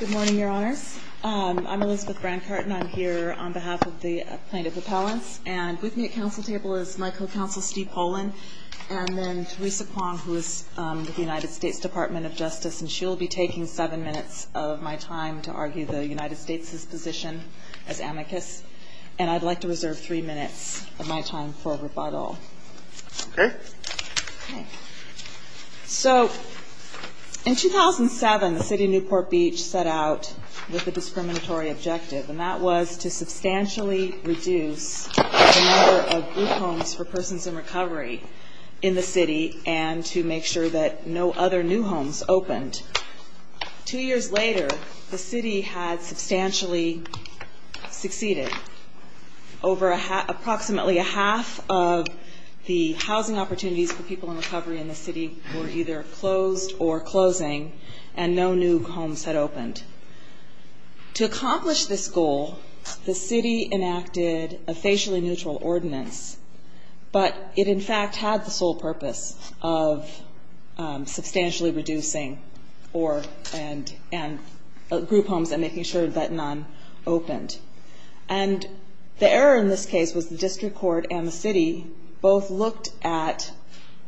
Good morning, Your Honors. I'm Elizabeth Brancart and I'm here on behalf of the plaintiff appellants and with me at council table is my co-counsel, Steve Pollan, and then Theresa Kwong, who is with the United States Department of Justice, and she'll be taking seven minutes of my time to argue the United States' position as amicus. And I'd like to reserve three minutes of my time for rebuttal. Okay. So, in 2007, the City of Newport Beach set out with a discriminatory objective, and that was to substantially reduce the number of group homes for persons in recovery in the city and to make sure that no other new homes opened. Two years later, the city had substantially succeeded. Over approximately a half of the housing opportunities for people in recovery in the city were either closed or closing, and no new homes had opened. To accomplish this goal, the city enacted a facially neutral ordinance, but it, in fact, had the sole purpose of substantially reducing or group homes and making sure that none opened. And the error in this case was the district court and the city both looked at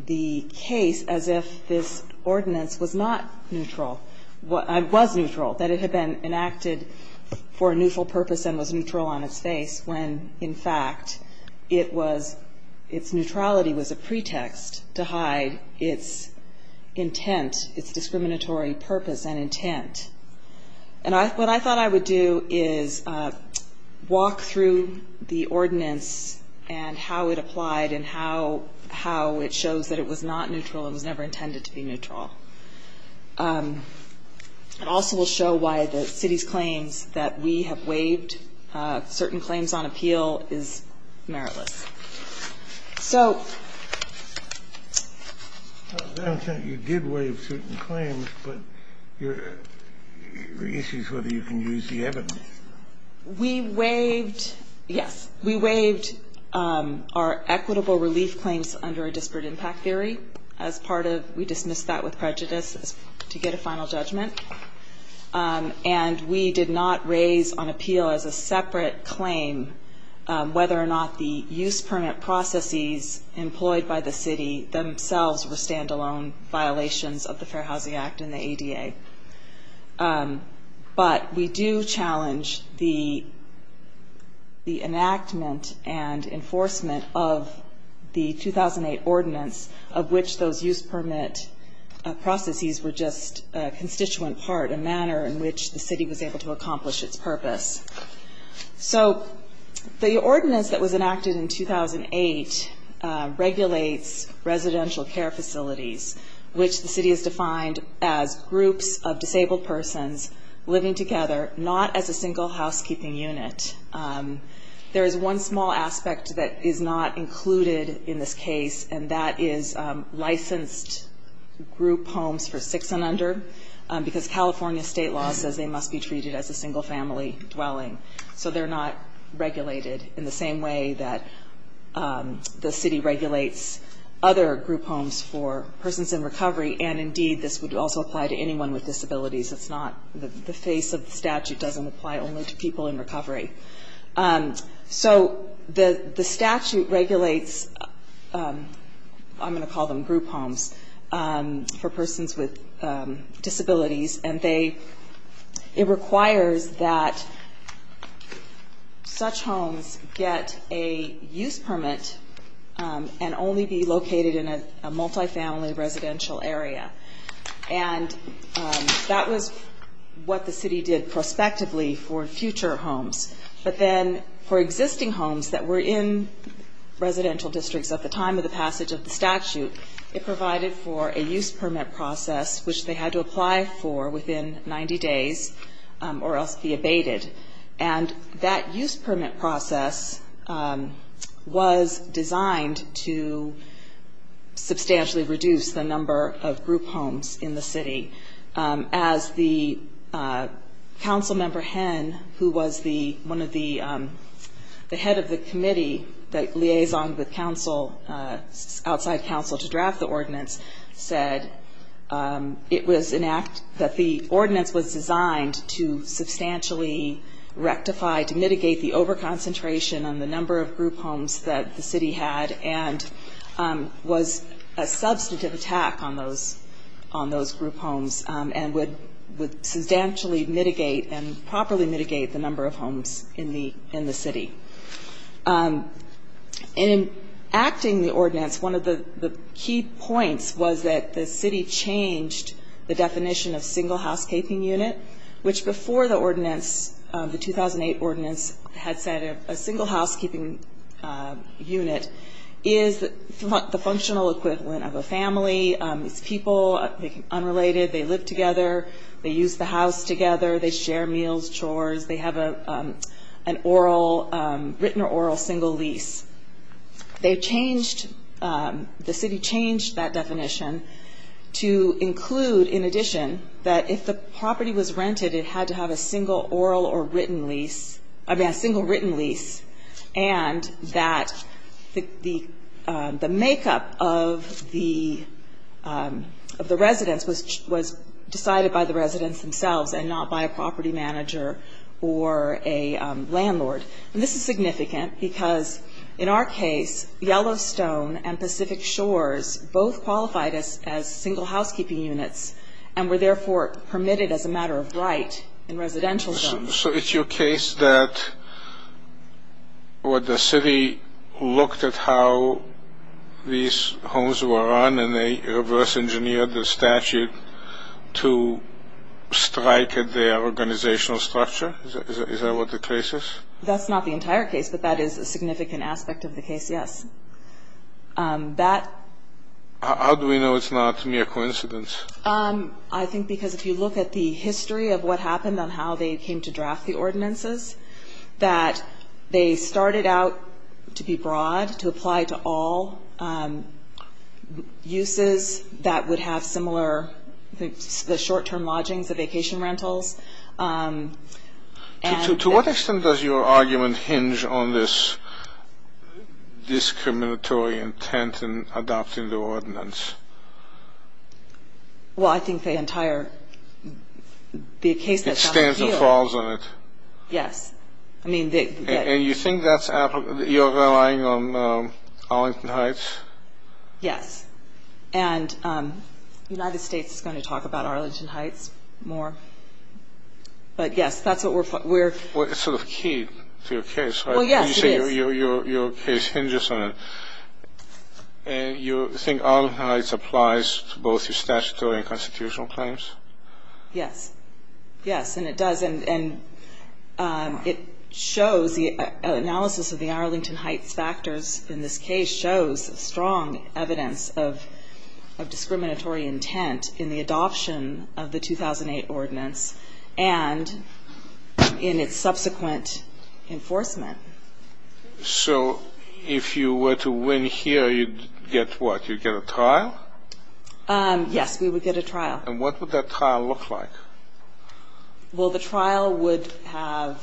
the case as if this ordinance was not neutral, was neutral, that it had been enacted for a neutral purpose and was neutral on its face, when, in fact, it was, its neutrality was a pretext to hide its intent, its discriminatory purpose and intent. And what I thought I would do is walk through the ordinance and how it applied and how it shows that it was not neutral and was never intended to be neutral. It also will show why the city's claims that we have waived certain claims on appeal is meritless. I don't think you did waive certain claims, but your issue is whether you can use the evidence. We waived, yes, we waived our equitable relief claims under a disparate impact theory as part of, we dismissed that with prejudice to get a final judgment, and we did not raise on appeal as a separate claim whether or not the use permit processes employed by the city themselves were stand-alone violations of the Fair Housing Act and the ADA. But we do challenge the enactment and enforcement of the 2008 ordinance of which those use permit processes were just a constituent part, a manner in which the city was able to accomplish its purpose. So the ordinance that was enacted in 2008 regulates residential care facilities, which the city has defined as groups of disabled persons living together, not as a single housekeeping unit. There is one small aspect that is not included in this case, and that is licensed group homes for six and under, because California state law says they must be treated as a single-family dwelling. So they're not regulated in the same way that the city regulates other group homes for persons in recovery, and indeed this would also apply to anyone with disabilities. It's not, the face of the statute doesn't apply only to people in recovery. So the statute regulates, I'm going to call them group homes, for persons with disabilities, and they, it requires that such homes get a use permit and only be located in a multifamily residential area. And that was what the city did prospectively for future homes. But then for existing homes that were in residential districts at the time of the passage of the statute, it provided for a use permit process, which they had to apply for within 90 days or else be abated. And that use permit process was designed to substantially reduce the number of group homes in the city. As the council member, Hen, who was the, one of the, the head of the committee that liaisoned with council, outside council to draft the ordinance, said it was an act, that the ordinance was designed to substantially reduce the number of group homes in the city. Rectify, to mitigate the over-concentration on the number of group homes that the city had, and was a substantive attack on those, on those group homes, and would substantially mitigate and properly mitigate the number of homes in the, in the city. In acting the ordinance, one of the key points was that the city changed the definition of single housekeeping unit, which before the ordinance, was a single housekeeping unit. The 2008 ordinance had said a single housekeeping unit is the functional equivalent of a family. It's people, unrelated, they live together, they use the house together, they share meals, chores, they have a, an oral, written or oral single lease. They changed, the city changed that definition to include, in addition, that if the property was rented, it had to have a single oral or written single lease. I mean, a single written lease, and that the, the, the makeup of the, of the residence was, was decided by the residence themselves, and not by a property manager or a landlord. And this is significant, because in our case, Yellowstone and Pacific Shores both qualified as, as single housekeeping units, and were therefore permitted as a matter of right in residential zones. Is it your case that what the city looked at how these homes were run, and they reverse engineered the statute to strike at their organizational structure? Is that, is that what the case is? That's not the entire case, but that is a significant aspect of the case, yes. That, how do we know it's not mere coincidence? I think, because if you look at the history of what happened, and how they came to draft the ordinances, that they started out to be broad, to apply to all uses that would have similar, the short term lodgings, the vacation rentals. To what extent does your argument hinge on this discriminatory intent in adopting the ordinance? Well, I think the entire, the case that's out here... It stands and falls on it. Yes, I mean... And you think that's, you're relying on Arlington Heights? Yes. And the United States is going to talk about Arlington Heights more. But yes, that's what we're... Well, it's sort of key to your case, right? Well, yes, it is. You say your case hinges on it. And you think Arlington Heights applies to both your statutory and constitutional claims? Yes. Yes, and it does. And it shows, the analysis of the Arlington Heights factors in this case shows strong evidence of discriminatory intent in the adoption of the 2008 ordinance, and in its subsequent enforcement. So, if you were to win here, you'd get what? You'd get a trial? Yes, we would get a trial. And what would that trial look like? Well, the trial would have...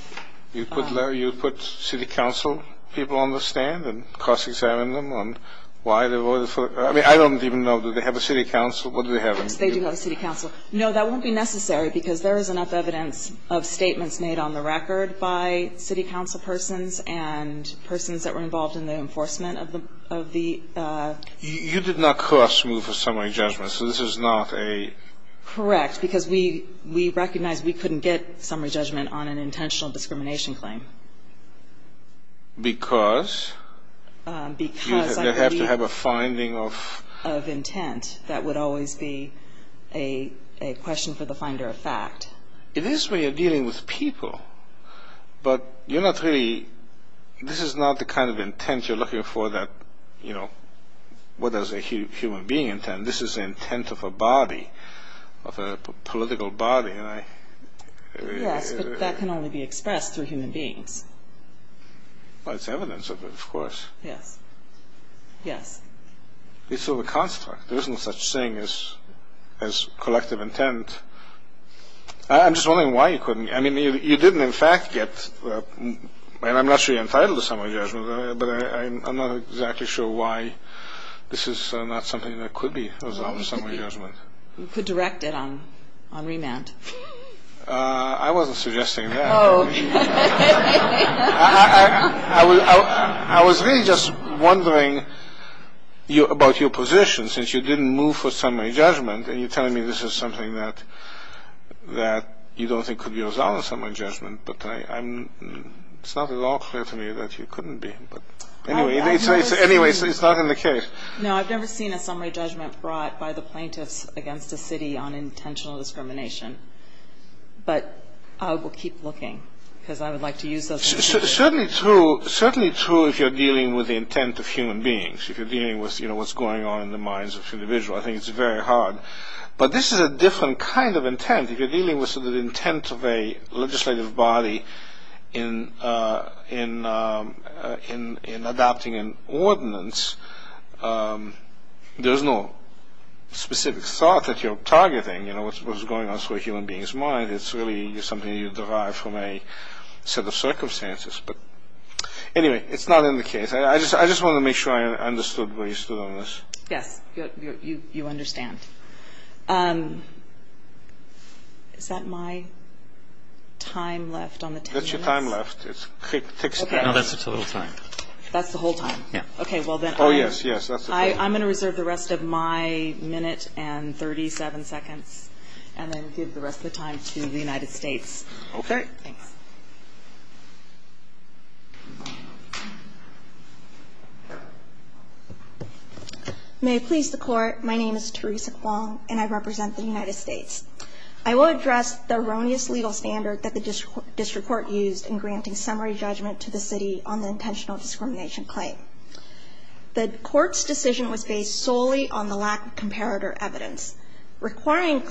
You'd put, Larry, you'd put city council people on the stand and cross-examine them on why they voted for... I mean, I don't even know. Do they have a city council? What do they have in... They do have a city council. No, that won't be necessary because there is enough evidence of statements made on the record by city council persons and persons that were involved in the enforcement of the... You did not cross-move a summary judgment, so this is not a... Correct, because we recognize we couldn't get summary judgment on an intentional discrimination claim. Because? Because I believe... You'd have to have a finding of... Of intent that would always be a question for the finder of fact. It is when you're dealing with people, but you're not really... This is not the kind of intent you're looking for that, you know, what does a human being intend. This is the intent of a body, of a political body, and I... Yes, but that can only be expressed through human beings. Well, it's evidence of it, of course. Yes. Yes. It's sort of a construct. There isn't such thing as collective intent. I'm just wondering why you couldn't... I mean, you didn't, in fact, get... And I'm not sure you're entitled to summary judgment, but I'm not exactly sure why this is not something that could be a summary judgment. You could direct it on remand. I wasn't suggesting that. Oh. I was really just wondering about your position, since you didn't move for summary judgment, and you're telling me this is something that you don't think could be resolved in summary judgment, but it's not at all clear to me that you couldn't be. But anyway, it's not in the case. No, I've never seen a summary judgment brought by the plaintiffs against a city on intentional discrimination, but I will keep looking because I would like to use those... Certainly true if you're dealing with the intent of human beings. If you're dealing with what's going on in the minds of individuals, I think it's very hard. But this is a different kind of intent. If you're dealing with the intent of a legislative body in adopting an ordinance, there's no specific thought that you're targeting what's going on through a human being's mind. It's really something you derive from a set of circumstances. But anyway, it's not in the case. I just wanted to make sure I understood where you stood on this. Yes, you understand. Is that my time left on the 10 minutes? That's your time left. No, that's the total time. That's the whole time? Yes. Oh, yes, yes. I'm going to reserve the rest of my minute and 37 seconds, and then give the rest of the time to the United States. Okay. Thanks. May it please the Court, my name is Teresa Kwong, and I represent the United States. I will address the erroneous legal standard that the district court used in granting summary judgment to the city on the intentional discrimination claim. The Court's decision was based solely on the lack of comparator evidence. Requiring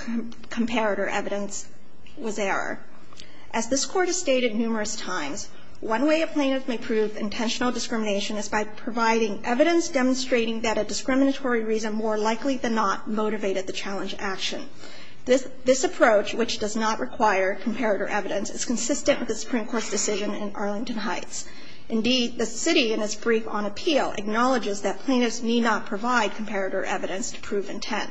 comparator evidence was error. As this Court has stated numerous times, one way a plaintiff may prove intentional discrimination is by providing evidence demonstrating that a discriminatory reason more likely than not motivated the challenge action. This approach, which does not require comparator evidence, is consistent with the Supreme Court's decision in Arlington Heights. Indeed, the city, in its brief on appeal, acknowledges that plaintiffs need not provide comparator evidence to prove intent.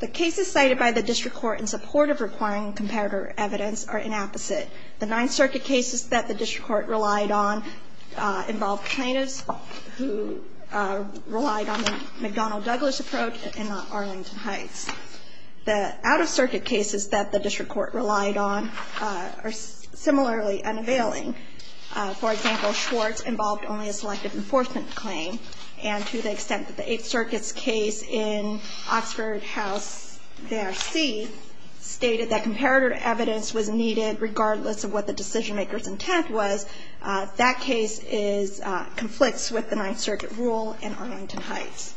The cases cited by the district court in support of requiring comparator evidence are inapposite. The Ninth Circuit cases that the district court relied on involved plaintiffs who relied on the McDonnell-Douglas approach and not Arlington Heights. The out-of-circuit cases that the district court relied on are similarly unavailing. For example, Schwartz involved only a selective enforcement claim. And to the extent that the Eighth Circuit's case in Oxford House v. A.R.C. stated that comparator evidence was needed regardless of what the decision-maker's intent was, that case conflicts with the Ninth Circuit rule in Arlington Heights.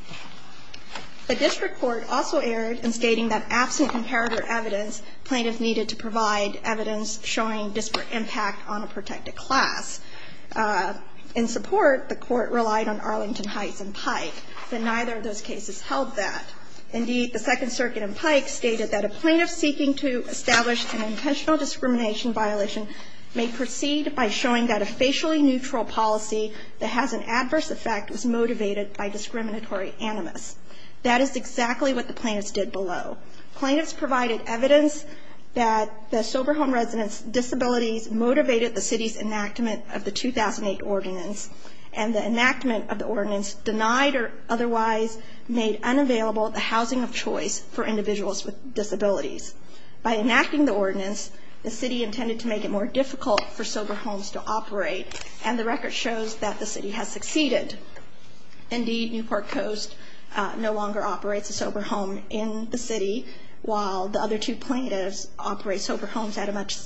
The district court also erred in stating that absent comparator evidence, plaintiffs needed to provide evidence showing disparate impact on a protected class. In support, the court relied on Arlington Heights and Pike, but neither of those cases held that. Indeed, the Second Circuit and Pike stated that a plaintiff seeking to establish That is exactly what the plaintiffs did below. Plaintiffs provided evidence that the sober home residents' disabilities motivated the city's enactment of the 2008 Ordinance, and the enactment of the Ordinance denied or otherwise made unavailable the housing of choice for individuals with disabilities. By enacting the Ordinance, the city intended to make it more difficult for sober homes to operate, and the record shows that the city has succeeded. Indeed, Newport Coast no longer operates a sober home in the city, while the other two plaintiffs operate sober homes at a much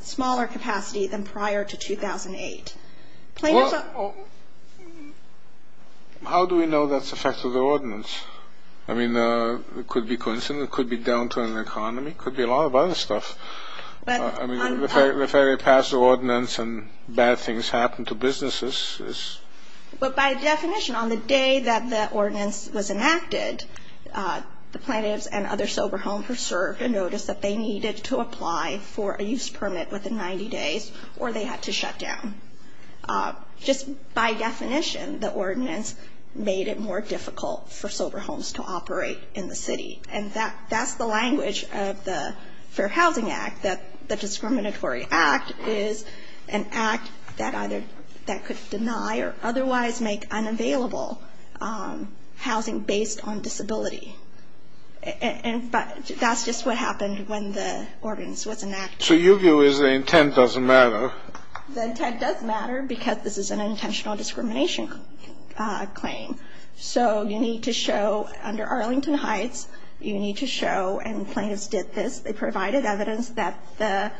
smaller capacity than prior to 2008. Plaintiffs are Well, how do we know that's affected the Ordinance? I mean, it could be coincidence. It could be down to an economy. It could be a lot of other stuff. I mean, the very past Ordinance and bad things happen to businesses. But by definition, on the day that the Ordinance was enacted, the plaintiffs and other sober homes were served a notice that they needed to apply for a use permit within 90 days, or they had to shut down. Just by definition, the Ordinance made it more difficult for sober homes to operate in the city, and that's the language of the Fair Housing Act, that the discriminatory act is an act that either could deny or otherwise make unavailable housing based on disability. And that's just what happened when the Ordinance was enacted. So your view is the intent doesn't matter? The intent does matter because this is an intentional discrimination claim. So you need to show under Arlington Heights, you need to show, and plaintiffs did this, they provided evidence that the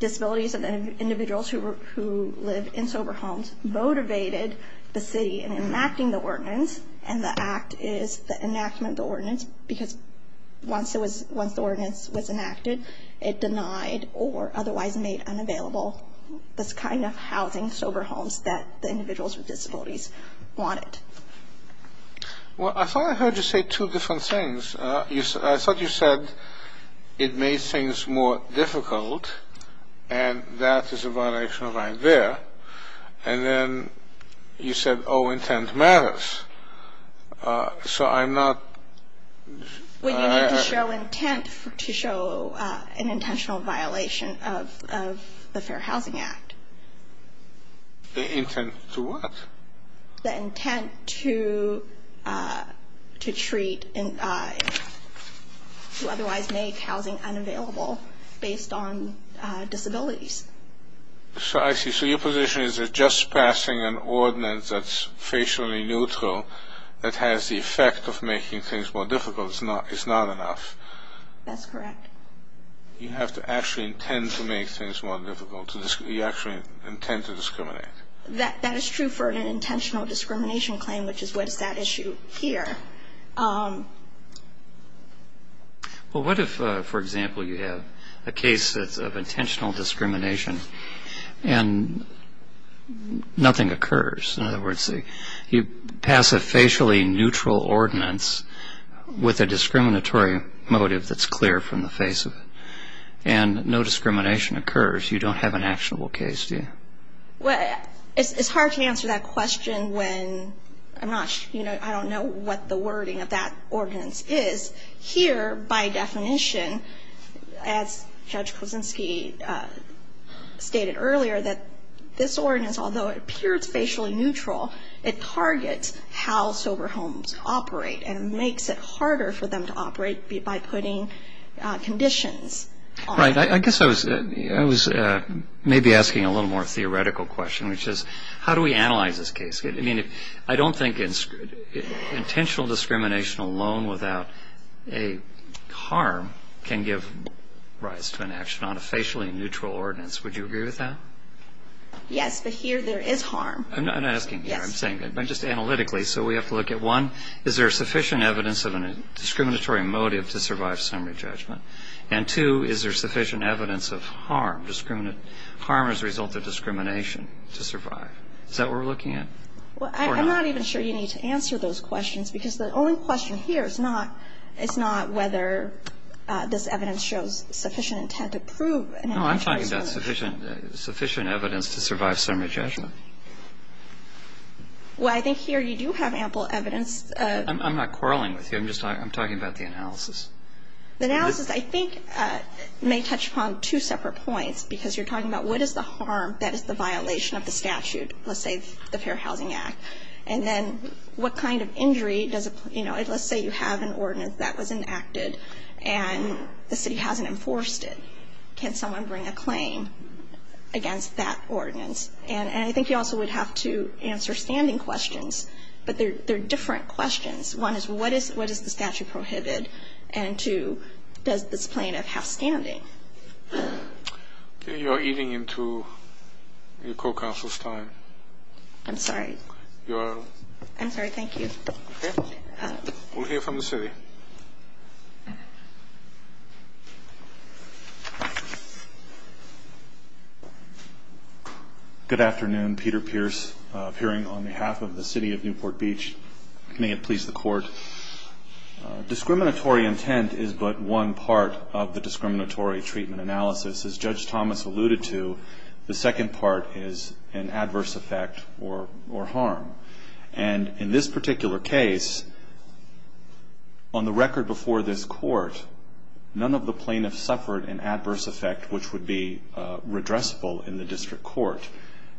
disabilities of the individuals who live in sober homes motivated the city in enacting the Ordinance, and the act is the enactment of the Ordinance because once the Ordinance was enacted, it denied or otherwise made unavailable this kind of housing, sober homes that the individuals with disabilities wanted. Well, I thought I heard you say two different things. I thought you said it made things more difficult, and that is a violation of right there. And then you said, oh, intent matters. So I'm not... Well, you need to show intent to show an intentional violation of the Fair Housing Act. The intent to what? The intent to treat, to otherwise make housing unavailable based on disabilities. So I see. So your position is that just passing an Ordinance that's facially neutral that has the effect of making things more difficult is not enough. That's correct. You have to actually intend to make things more difficult. You actually intend to discriminate. That is true for an intentional discrimination claim, which is what is at issue here. Well, what if, for example, you have a case that's of intentional discrimination and nothing occurs? In other words, you pass a facially neutral Ordinance with a discriminatory motive that's clear from the face of it, and no discrimination occurs. You don't have an actionable case, do you? Well, it's hard to answer that question when I'm not sure, you know, I don't know what the wording of that Ordinance is. Here, by definition, as Judge Kuczynski stated earlier, that this Ordinance, although it appears facially neutral, it targets how sober homes operate and makes it harder for them to operate by putting conditions on it. Right. I guess I was maybe asking a little more theoretical question, which is how do we analyze this case? I mean, I don't think intentional discrimination alone without a harm can give rise to an action on a facially neutral Ordinance. Would you agree with that? Yes, but here there is harm. I'm not asking here. I'm saying just analytically. So we have to look at, one, is there sufficient evidence of a discriminatory motive to survive summary judgment? And, two, is there sufficient evidence of harm, harm as a result of discrimination to survive? Is that what we're looking at? Well, I'm not even sure you need to answer those questions, because the only question here is not whether this evidence shows sufficient intent to prove an amplified summary judgment. No, I'm talking about sufficient evidence to survive summary judgment. Well, I think here you do have ample evidence. I'm not quarreling with you. I'm just talking about the analysis. The analysis, I think, may touch upon two separate points, because you're talking about what is the harm that is the violation of the statute, let's say the Fair Housing Act, and then what kind of injury does it, you know, let's say you have an Ordinance that was enacted and the city hasn't enforced it. Can someone bring a claim against that Ordinance? And I think you also would have to answer standing questions, but they're different questions. One is what does the statute prohibit? And two, does this plaintiff have standing? You're eating into your co-counsel's time. I'm sorry. I'm sorry. Thank you. We'll hear from the city. Good afternoon. Peter Pierce, appearing on behalf of the City of Newport Beach. May it please the Court. Discriminatory intent is but one part of the discriminatory treatment analysis. As Judge Thomas alluded to, the second part is an adverse effect or harm. And in this particular case, on the record before this Court, none of the plaintiffs suffered an adverse effect which would be redressable in the district court.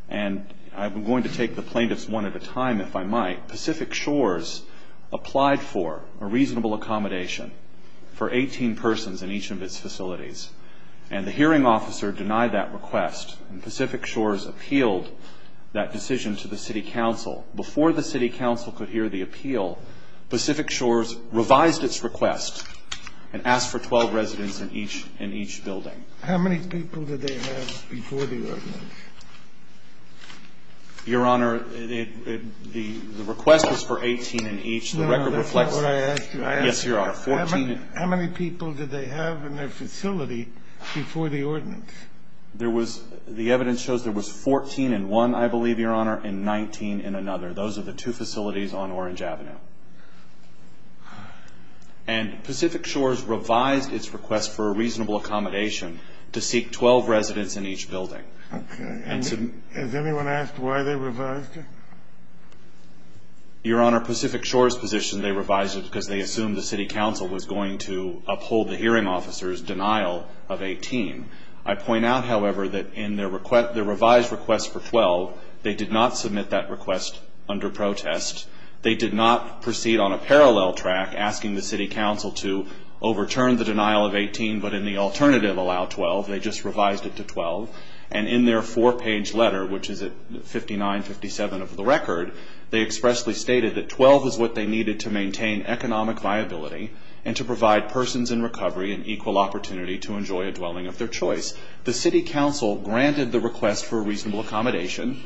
And I'm going to take the plaintiffs one at a time, if I might. Pacific Shores applied for a reasonable accommodation for 18 persons in each of its facilities. And the hearing officer denied that request, and Pacific Shores appealed that decision to the city council. Before the city council could hear the appeal, Pacific Shores revised its request and asked for 12 residents in each building. How many people did they have before the ordinance? Your Honor, the request was for 18 in each. No, that's not what I asked you. Yes, Your Honor. How many people did they have in their facility before the ordinance? The evidence shows there was 14 in one, I believe, Your Honor, and 19 in another. Those are the two facilities on Orange Avenue. And Pacific Shores revised its request for a reasonable accommodation to seek 12 residents in each building. Okay. Has anyone asked why they revised it? Your Honor, Pacific Shores' position they revised it because they assumed the city council was going to uphold the hearing officer's denial of 18. I point out, however, that in their revised request for 12, they did not submit that request under protest. They did not proceed on a parallel track asking the city council to overturn the denial of 18 but in the alternative allow 12. They just revised it to 12, and in their four-page letter, which is at 59-57 of the record, they expressly stated that 12 is what they needed to maintain economic viability and to provide persons in recovery an equal opportunity to enjoy a dwelling of their choice. The city council granted the request for a reasonable accommodation,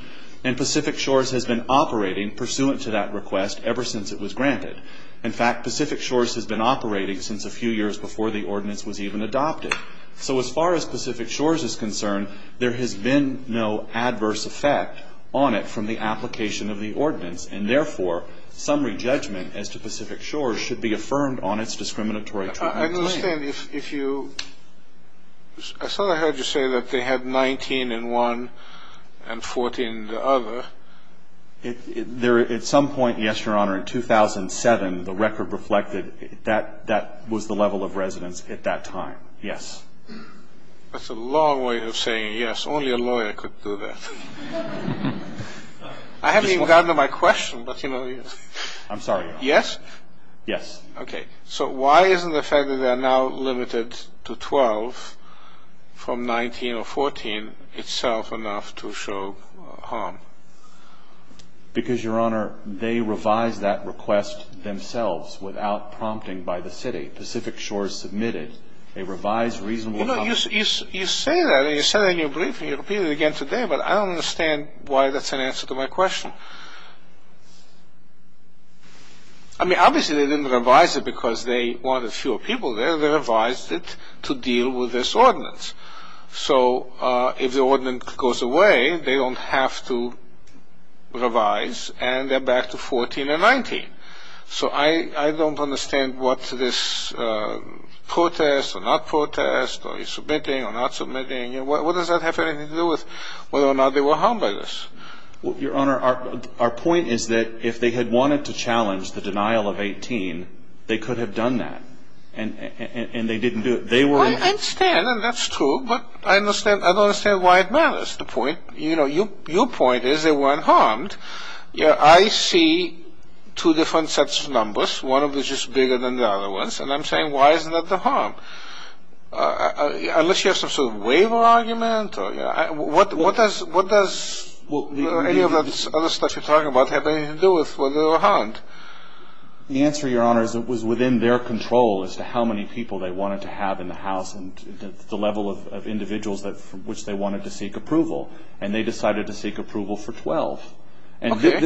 and Pacific Shores has been operating pursuant to that request ever since it was granted. In fact, Pacific Shores has been operating since a few years before the ordinance was even adopted. So as far as Pacific Shores is concerned, there has been no adverse effect on it from the application of the ordinance, and therefore, summary judgment as to Pacific Shores should be affirmed on its discriminatory treatment claim. I understand. I thought I heard you say that they had 19 in one and 14 in the other. At some point, yes, Your Honor, in 2007, the record reflected that that was the level of residence at that time, yes. That's a long way of saying yes. Only a lawyer could do that. I haven't even gotten to my question, but, you know, yes. I'm sorry, Your Honor. Yes? Yes. Okay. So why isn't the fact that they are now limited to 12 from 19 or 14 itself enough to show harm? Because, Your Honor, they revised that request themselves without prompting by the city. The Pacific Shores submitted a revised reasonable comment. You know, you say that. You said that in your briefing. You repeated it again today, but I don't understand why that's an answer to my question. I mean, obviously they didn't revise it because they wanted fewer people there. They revised it to deal with this ordinance. So if the ordinance goes away, they don't have to revise, and they're back to 14 and 19. So I don't understand what this protest or not protest or submitting or not submitting, what does that have anything to do with whether or not they were harmed by this? Your Honor, our point is that if they had wanted to challenge the denial of 18, they could have done that, and they didn't do it. I understand, and that's true, but I don't understand why it matters. The point, you know, your point is they weren't harmed. I see two different sets of numbers. One of them is just bigger than the other ones, and I'm saying why isn't that the harm? Unless you have some sort of waiver argument, what does any of the other stuff you're talking about have anything to do with whether they were harmed? The answer, Your Honor, is it was within their control as to how many people they wanted to have in the house and the level of individuals from which they wanted to seek approval, and they decided to seek approval for 12. Okay.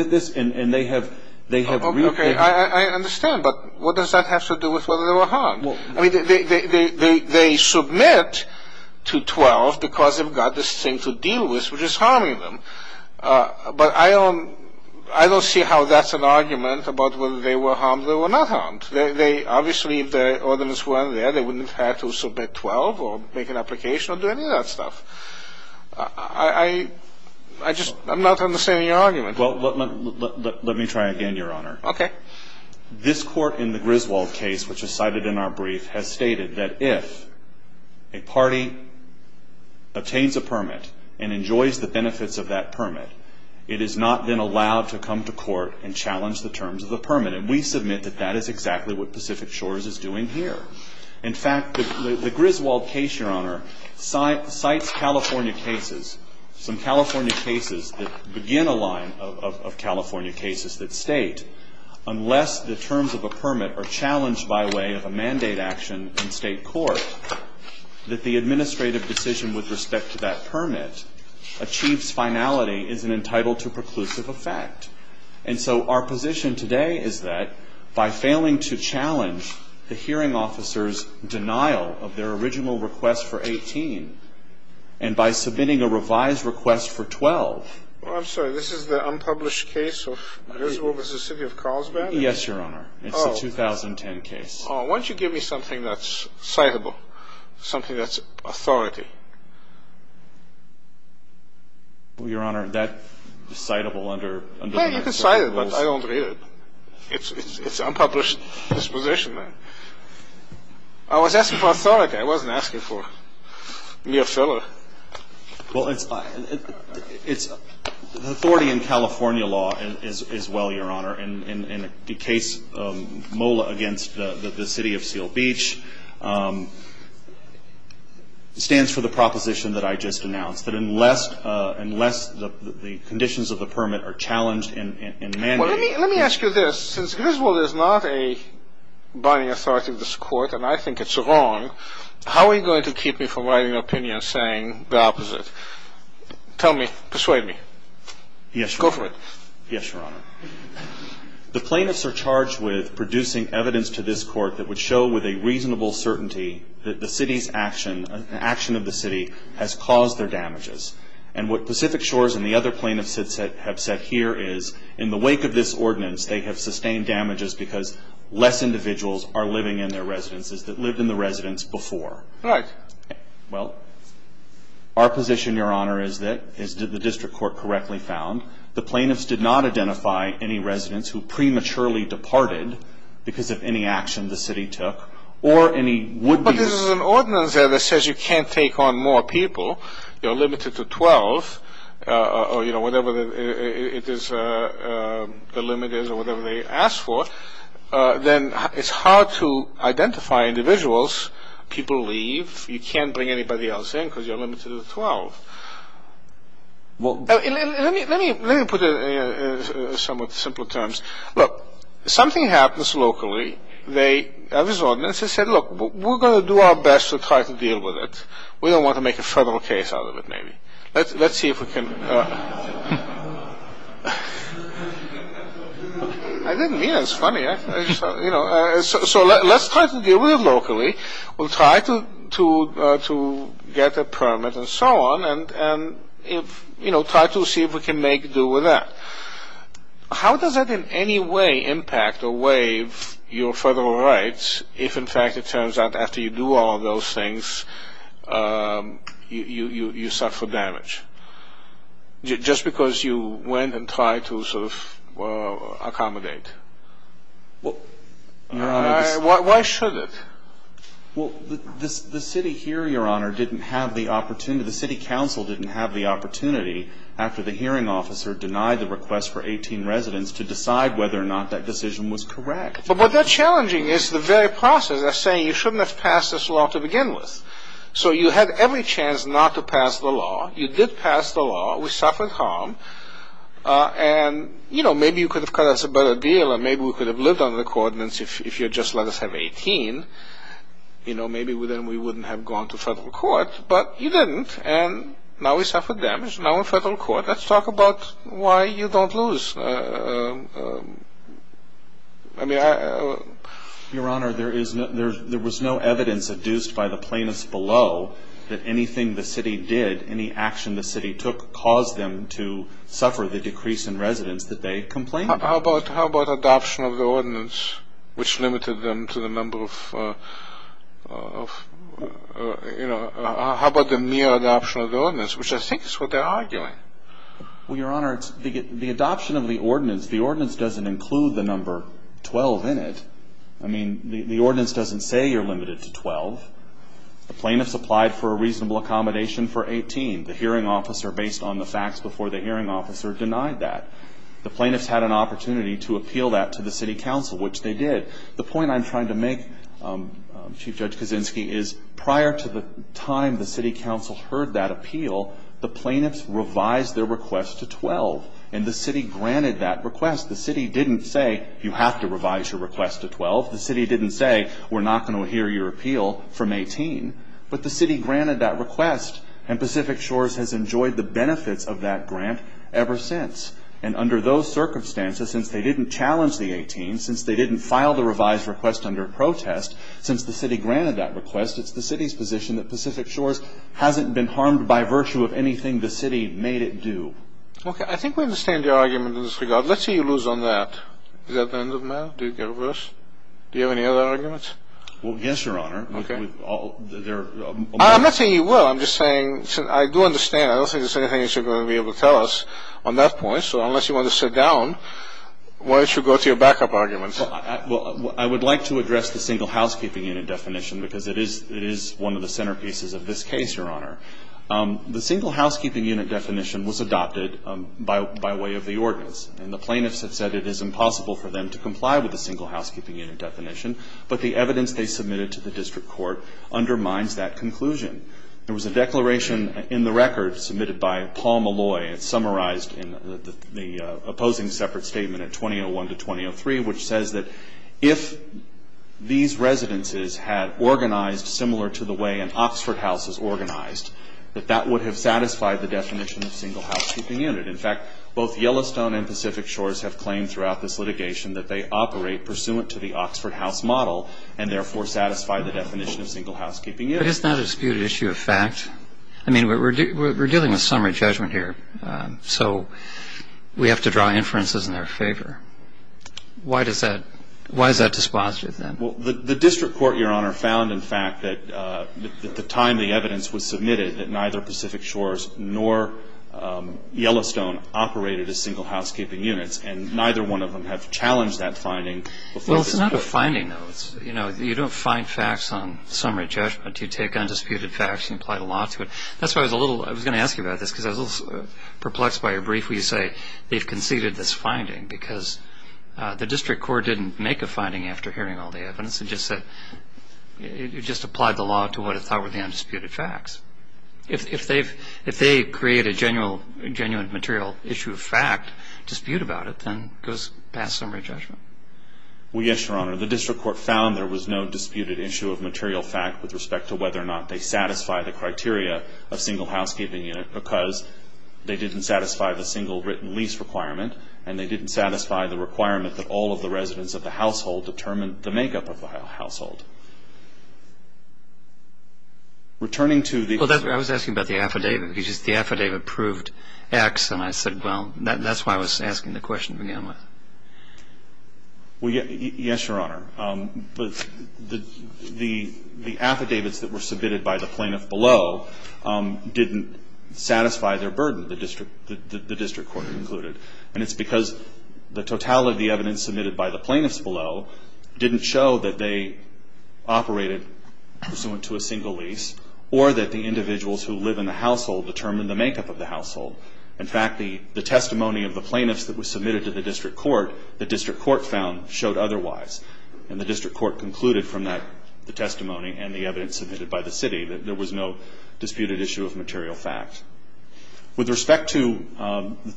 I understand, but what does that have to do with whether they were harmed? They submit to 12 because they've got this thing to deal with, which is harming them, but I don't see how that's an argument about whether they were harmed or not harmed. Obviously, if the ordinance weren't there, they wouldn't have had to submit 12 or make an application or do any of that stuff. I just am not understanding your argument. Well, let me try again, Your Honor. Okay. This court in the Griswold case, which is cited in our brief, has stated that if a party attains a permit and enjoys the benefits of that permit, it has not been allowed to come to court and challenge the terms of the permit, and we submit that that is exactly what Pacific Shores is doing here. In fact, the Griswold case, Your Honor, cites California cases, some California cases that begin a line of California cases that state, unless the terms of a permit are challenged by way of a mandate action in state court, that the administrative decision with respect to that permit achieves finality, is it entitled to preclusive effect. And so our position today is that by failing to challenge the hearing officer's denial of their original request for 18 and by submitting a revised request for 12. Well, I'm sorry. This is the unpublished case of Griswold v. City of Carlsbad? Yes, Your Honor. It's a 2010 case. Why don't you give me something that's citable, something that's authority? Well, Your Honor, that's citable under the national rules. Well, you can cite it, but I don't read it. It's unpublished disposition. I was asking for authority. I wasn't asking for mere filler. Well, it's authority in California law as well, Your Honor, in the case MOLA against the City of Seal Beach. It stands for the proposition that I just announced, that unless the conditions of the permit are challenged in mandate. Well, let me ask you this. Since Griswold is not a binding authority of this Court, and I think it's wrong, how are you going to keep me from writing an opinion saying the opposite? Tell me. Persuade me. Yes, Your Honor. Go for it. Yes, Your Honor. The plaintiffs are charged with producing evidence to this Court that would show with a reasonable certainty that the City's action, an action of the City has caused their damages. And what Pacific Shores and the other plaintiffs have said here is, in the wake of this ordinance, they have sustained damages because less individuals are living in their residences that lived in the residence before. Right. Well, our position, Your Honor, is that the district court correctly found the plaintiffs did not identify any residents who prematurely departed because of any action the City took or any would-be residents. But this is an ordinance there that says you can't take on more people. You're limited to 12 or, you know, whatever the limit is or whatever they ask for. Then it's hard to identify individuals. People leave. You can't bring anybody else in because you're limited to 12. Let me put it in somewhat simpler terms. Look, something happens locally. They have this ordinance. They said, look, we're going to do our best to try to deal with it. We don't want to make a federal case out of it, maybe. Let's see if we can. I didn't mean it. It's funny. So let's try to deal with it locally. We'll try to get a permit and so on. And, you know, try to see if we can make do with that. How does that in any way impact or waive your federal rights if, in fact, it turns out after you do all of those things, you suffer damage? Just because you went and tried to sort of accommodate. Why should it? Well, the City here, Your Honor, didn't have the opportunity. The City Council didn't have the opportunity after the hearing officer denied the request for 18 residents to decide whether or not that decision was correct. But what's challenging is the very process of saying you shouldn't have passed this law to begin with. So you had every chance not to pass the law. You did pass the law. We suffered harm. And, you know, maybe you could have cut us a better deal and maybe we could have lived under the coordinates if you had just let us have 18. You know, maybe then we wouldn't have gone to federal court. But you didn't, and now we suffered damage. Now we're in federal court. Let's talk about why you don't lose. I mean, I... Your Honor, there was no evidence adduced by the plaintiffs below that anything the City did, any action the City took caused them to suffer the decrease in residents that they complained about. How about adoption of the ordinance, which limited them to the number of, you know... How about the mere adoption of the ordinance, which I think is what they're arguing? Well, Your Honor, the adoption of the ordinance, the ordinance doesn't include the number 12 in it. I mean, the ordinance doesn't say you're limited to 12. The plaintiffs applied for a reasonable accommodation for 18. The hearing officer, based on the facts before the hearing officer, denied that. The plaintiffs had an opportunity to appeal that to the City Council, which they did. The point I'm trying to make, Chief Judge Kaczynski, is prior to the time the City Council heard that appeal, the plaintiffs revised their request to 12, and the City granted that request. The City didn't say, you have to revise your request to 12. The City didn't say, we're not going to hear your appeal from 18. But the City granted that request, and Pacific Shores has enjoyed the benefits of that grant ever since. And under those circumstances, since they didn't challenge the 18, since they didn't file the revised request under protest, since the City granted that request, it's the City's position that Pacific Shores hasn't been harmed by virtue of anything the City made it do. Okay. I think we understand your argument in this regard. Let's see you lose on that. Is that the end of the matter? Do you have any other arguments? Well, yes, Your Honor. I'm not saying you will. I'm just saying, I do understand. I don't think there's anything that you're going to be able to tell us on that point. So unless you want to sit down, why don't you go to your backup arguments? Well, I would like to address the single housekeeping unit definition, because it is one of the centerpieces of this case, Your Honor. The single housekeeping unit definition was adopted by way of the ordinance. And the plaintiffs have said it is impossible for them to comply with the single housekeeping unit definition, but the evidence they submitted to the district court undermines that conclusion. There was a declaration in the record submitted by Paul Malloy. It's summarized in the opposing separate statement at 2001 to 2003, which says that if these residences had organized similar to the way an Oxford house is organized, that that would have satisfied the definition of single housekeeping unit. In fact, both Yellowstone and Pacific Shores have claimed throughout this litigation that they operate pursuant to the Oxford house model and, therefore, satisfy the definition of single housekeeping unit. But it's not a disputed issue of fact. I mean, we're dealing with summary judgment here, so we have to draw inferences in their favor. Why is that dispositive, then? Well, the district court, Your Honor, found, in fact, that at the time the evidence was submitted, that neither Pacific Shores nor Yellowstone operated as single housekeeping units, and neither one of them have challenged that finding before this court. Well, it's not a finding, though. You know, you don't find facts on summary judgment. You take undisputed facts and apply the law to it. That's why I was going to ask you about this, because I was a little perplexed by your brief, where you say they've conceded this finding, because the district court didn't make a finding after hearing all the evidence. It just said it just applied the law to what it thought were the undisputed facts. If they create a genuine material issue of fact, dispute about it, then it goes past summary judgment. Well, yes, Your Honor. The district court found there was no disputed issue of material fact with respect to whether or not they satisfy the criteria of single housekeeping unit because they didn't satisfy the single written lease requirement, and they didn't satisfy the requirement that all of the residents of the household determine the makeup of the household. Returning to the— Well, I was asking about the affidavit, because the affidavit proved X, and I said, well, that's why I was asking the question to begin with. Well, yes, Your Honor. The affidavits that were submitted by the plaintiff below didn't satisfy their burden, the district court concluded, and it's because the totality of the evidence submitted by the plaintiffs below didn't show that they operated pursuant to a single lease or that the individuals who live in the household determined the makeup of the household. In fact, the testimony of the plaintiffs that was submitted to the district court, the district court found showed otherwise, and the district court concluded from that testimony and the evidence submitted by the city that there was no disputed issue of material fact. With respect to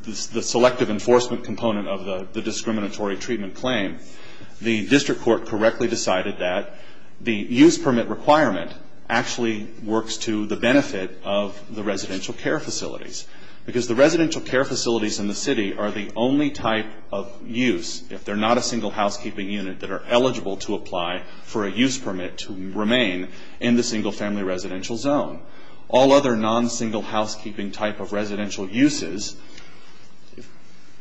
the selective enforcement component of the discriminatory treatment claim, the district court correctly decided that the use permit requirement actually works to the benefit of the residential care facilities because the residential care facilities in the city are the only type of use, if they're not a single housekeeping unit, that are eligible to apply for a use permit to remain in the single family residential zone. All other non-single housekeeping type of residential uses,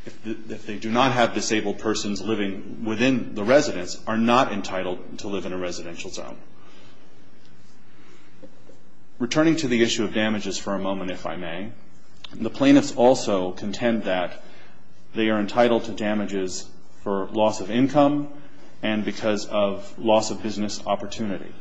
if they do not have disabled persons living within the residence, are not entitled to live in a residential zone. Returning to the issue of damages for a moment, if I may, the plaintiffs also contend that they are entitled to damages for loss of income and because of loss of business opportunity.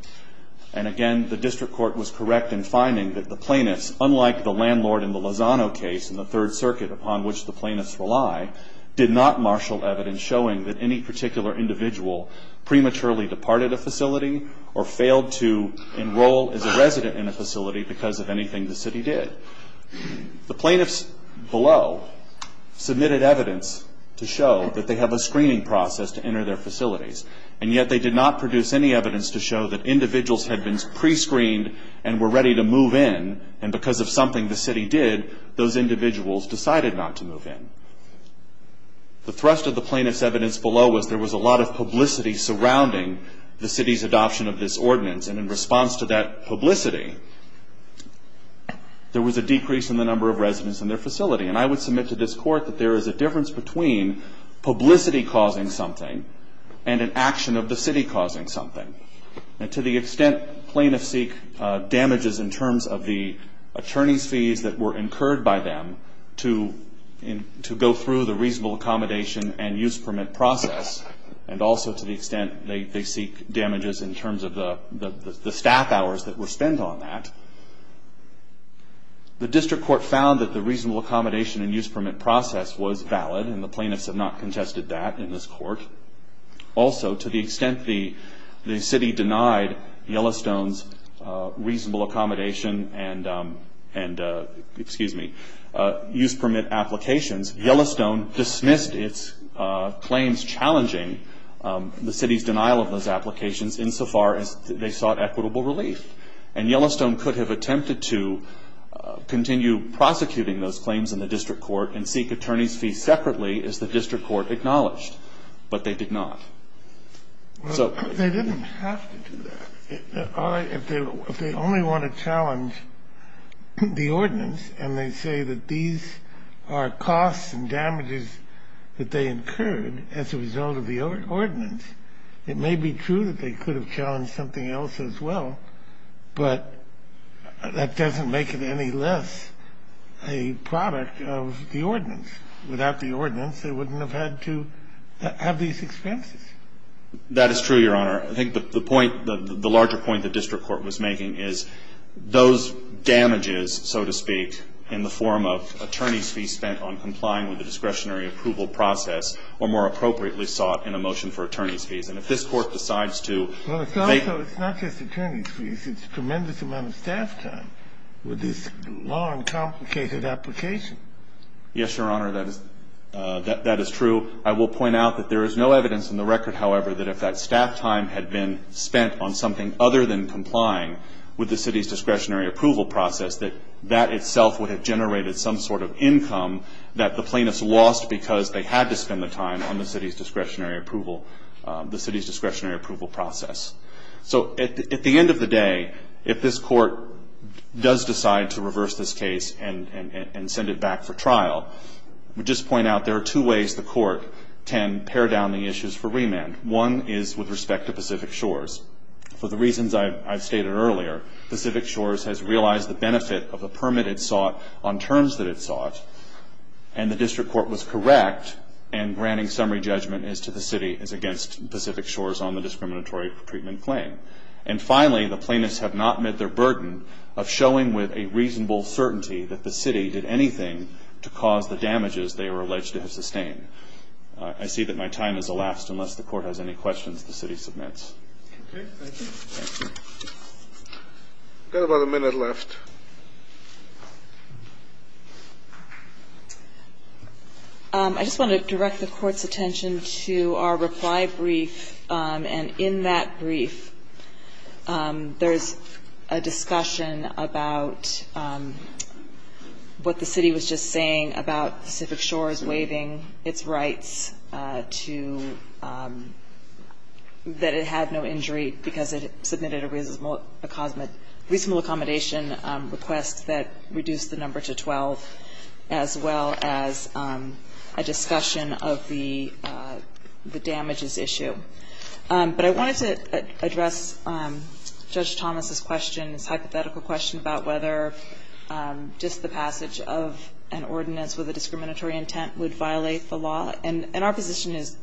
And again, the district court was correct in finding that the plaintiffs, unlike the landlord in the Lozano case in the Third Circuit upon which the plaintiffs rely, did not marshal evidence showing that any particular individual prematurely departed a facility or failed to enroll as a resident in a facility because of anything the city did. The plaintiffs below submitted evidence to show that they have a screening process to enter their facilities and yet they did not produce any evidence to show that individuals had been pre-screened and were ready to move in and because of something the city did, those individuals decided not to move in. The thrust of the plaintiff's evidence below was there was a lot of publicity surrounding the city's adoption of this ordinance and in response to that publicity, there was a decrease in the number of residents in their facility. And I would submit to this court that there is a difference between publicity causing something and an action of the city causing something. And to the extent plaintiffs seek damages in terms of the attorney's fees that were incurred by them to go through the reasonable accommodation and use permit process and also to the extent they seek damages in terms of the staff hours that were spent on that, the district court found that the reasonable accommodation and use permit process was valid and the plaintiffs have not contested that in this court. Also, to the extent the city denied Yellowstone's reasonable accommodation and excuse me, use permit applications, Yellowstone dismissed its claims challenging the city's denial of those applications insofar as they sought equitable relief. And Yellowstone could have attempted to continue prosecuting those claims in the district court and seek attorney's fees separately as the district court acknowledged, but they did not. They didn't have to do that. If they only want to challenge the ordinance and they say that these are costs and damages that they incurred as a result of the ordinance, it may be true that they could have challenged something else as well, but that doesn't make it any less a product of the ordinance. Without the ordinance, they wouldn't have had to have these expenses. That is true, Your Honor. I think the point, the larger point the district court was making is those damages, so to speak, in the form of attorney's fees spent on complying with the discretionary approval process were more appropriately sought in a motion for attorney's fees. And if this court decides to make Well, it's not just attorney's fees. It's a tremendous amount of staff time with this long, complicated application. Yes, Your Honor, that is true. I will point out that there is no evidence in the record, however, that if that staff time had been spent on something other than complying with the city's discretionary approval process, that that itself would have generated some sort of income that the plaintiffs lost because they had to spend the time on the city's discretionary approval process. So at the end of the day, if this court does decide to reverse this case and send it back for trial, I would just point out there are two ways the court can pare down the issues for remand. One is with respect to Pacific Shores. For the reasons I've stated earlier, Pacific Shores has realized the benefit of the permit it sought on terms that it sought, and the district court was correct in granting summary judgment as to the city as against Pacific Shores on the discriminatory treatment claim. And finally, the plaintiffs have not met their burden of showing with a reasonable certainty that the city did anything to cause the damages they were alleged to have sustained. I see that my time has elapsed unless the court has any questions the city submits. Okay. Thank you. Thank you. We've got about a minute left. I just want to direct the court's attention to our reply brief, and in that brief there's a discussion about what the city was just saying about Pacific Shores waiving its rights to that it had no injury because it submitted a reasonable accommodation request that reduced the number to 12, as well as a discussion of the damages issue. But I wanted to address Judge Thomas's question, his hypothetical question about whether just the passage of an ordinance with a discriminatory intent would violate the law. And our position is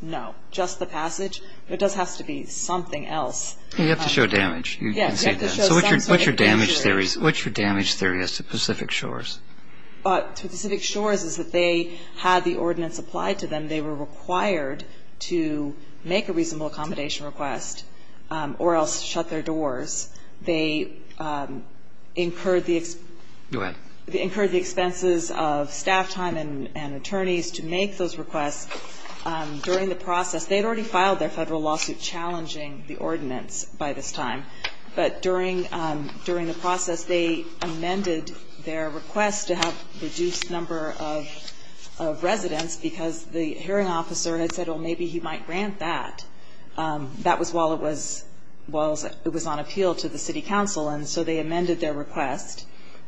no. Just the passage. There does have to be something else. You have to show damage. Yes. So what's your damage theory as to Pacific Shores? To Pacific Shores is that they had the ordinance applied to them. And they were required to make a reasonable accommodation request or else shut their doors. They incurred the expenses of staff time and attorneys to make those requests. During the process, they had already filed their Federal lawsuit challenging the ordinance by this time. But during the process, they amended their request to have a reduced number of residents because the hearing officer had said, well, maybe he might grant that. That was while it was on appeal to the city council. And so they amended their request.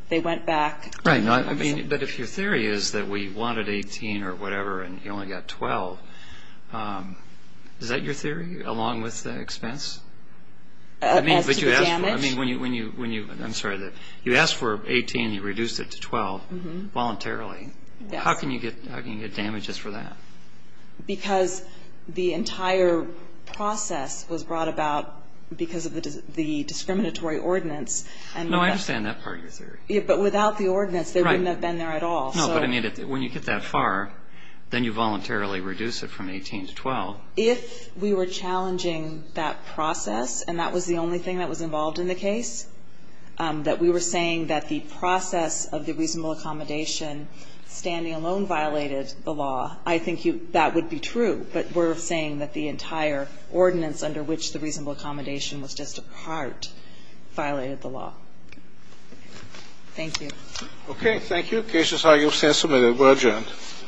They went back. Right. But if your theory is that we wanted 18 or whatever and you only got 12, is that your theory along with the expense? As to the damage? I'm sorry. You asked for 18 and you reduced it to 12 voluntarily. Yes. How can you get damages for that? Because the entire process was brought about because of the discriminatory ordinance. No, I understand that part of your theory. But without the ordinance, they wouldn't have been there at all. No, but I mean, when you get that far, then you voluntarily reduce it from 18 to 12. If we were challenging that process and that was the only thing that was involved in the case, that we were saying that the process of the reasonable accommodation standing alone violated the law, I think that would be true. But we're saying that the entire ordinance under which the reasonable accommodation was just a part violated the law. Thank you. Okay, thank you. Cases are, you've been submitted. We're adjourned.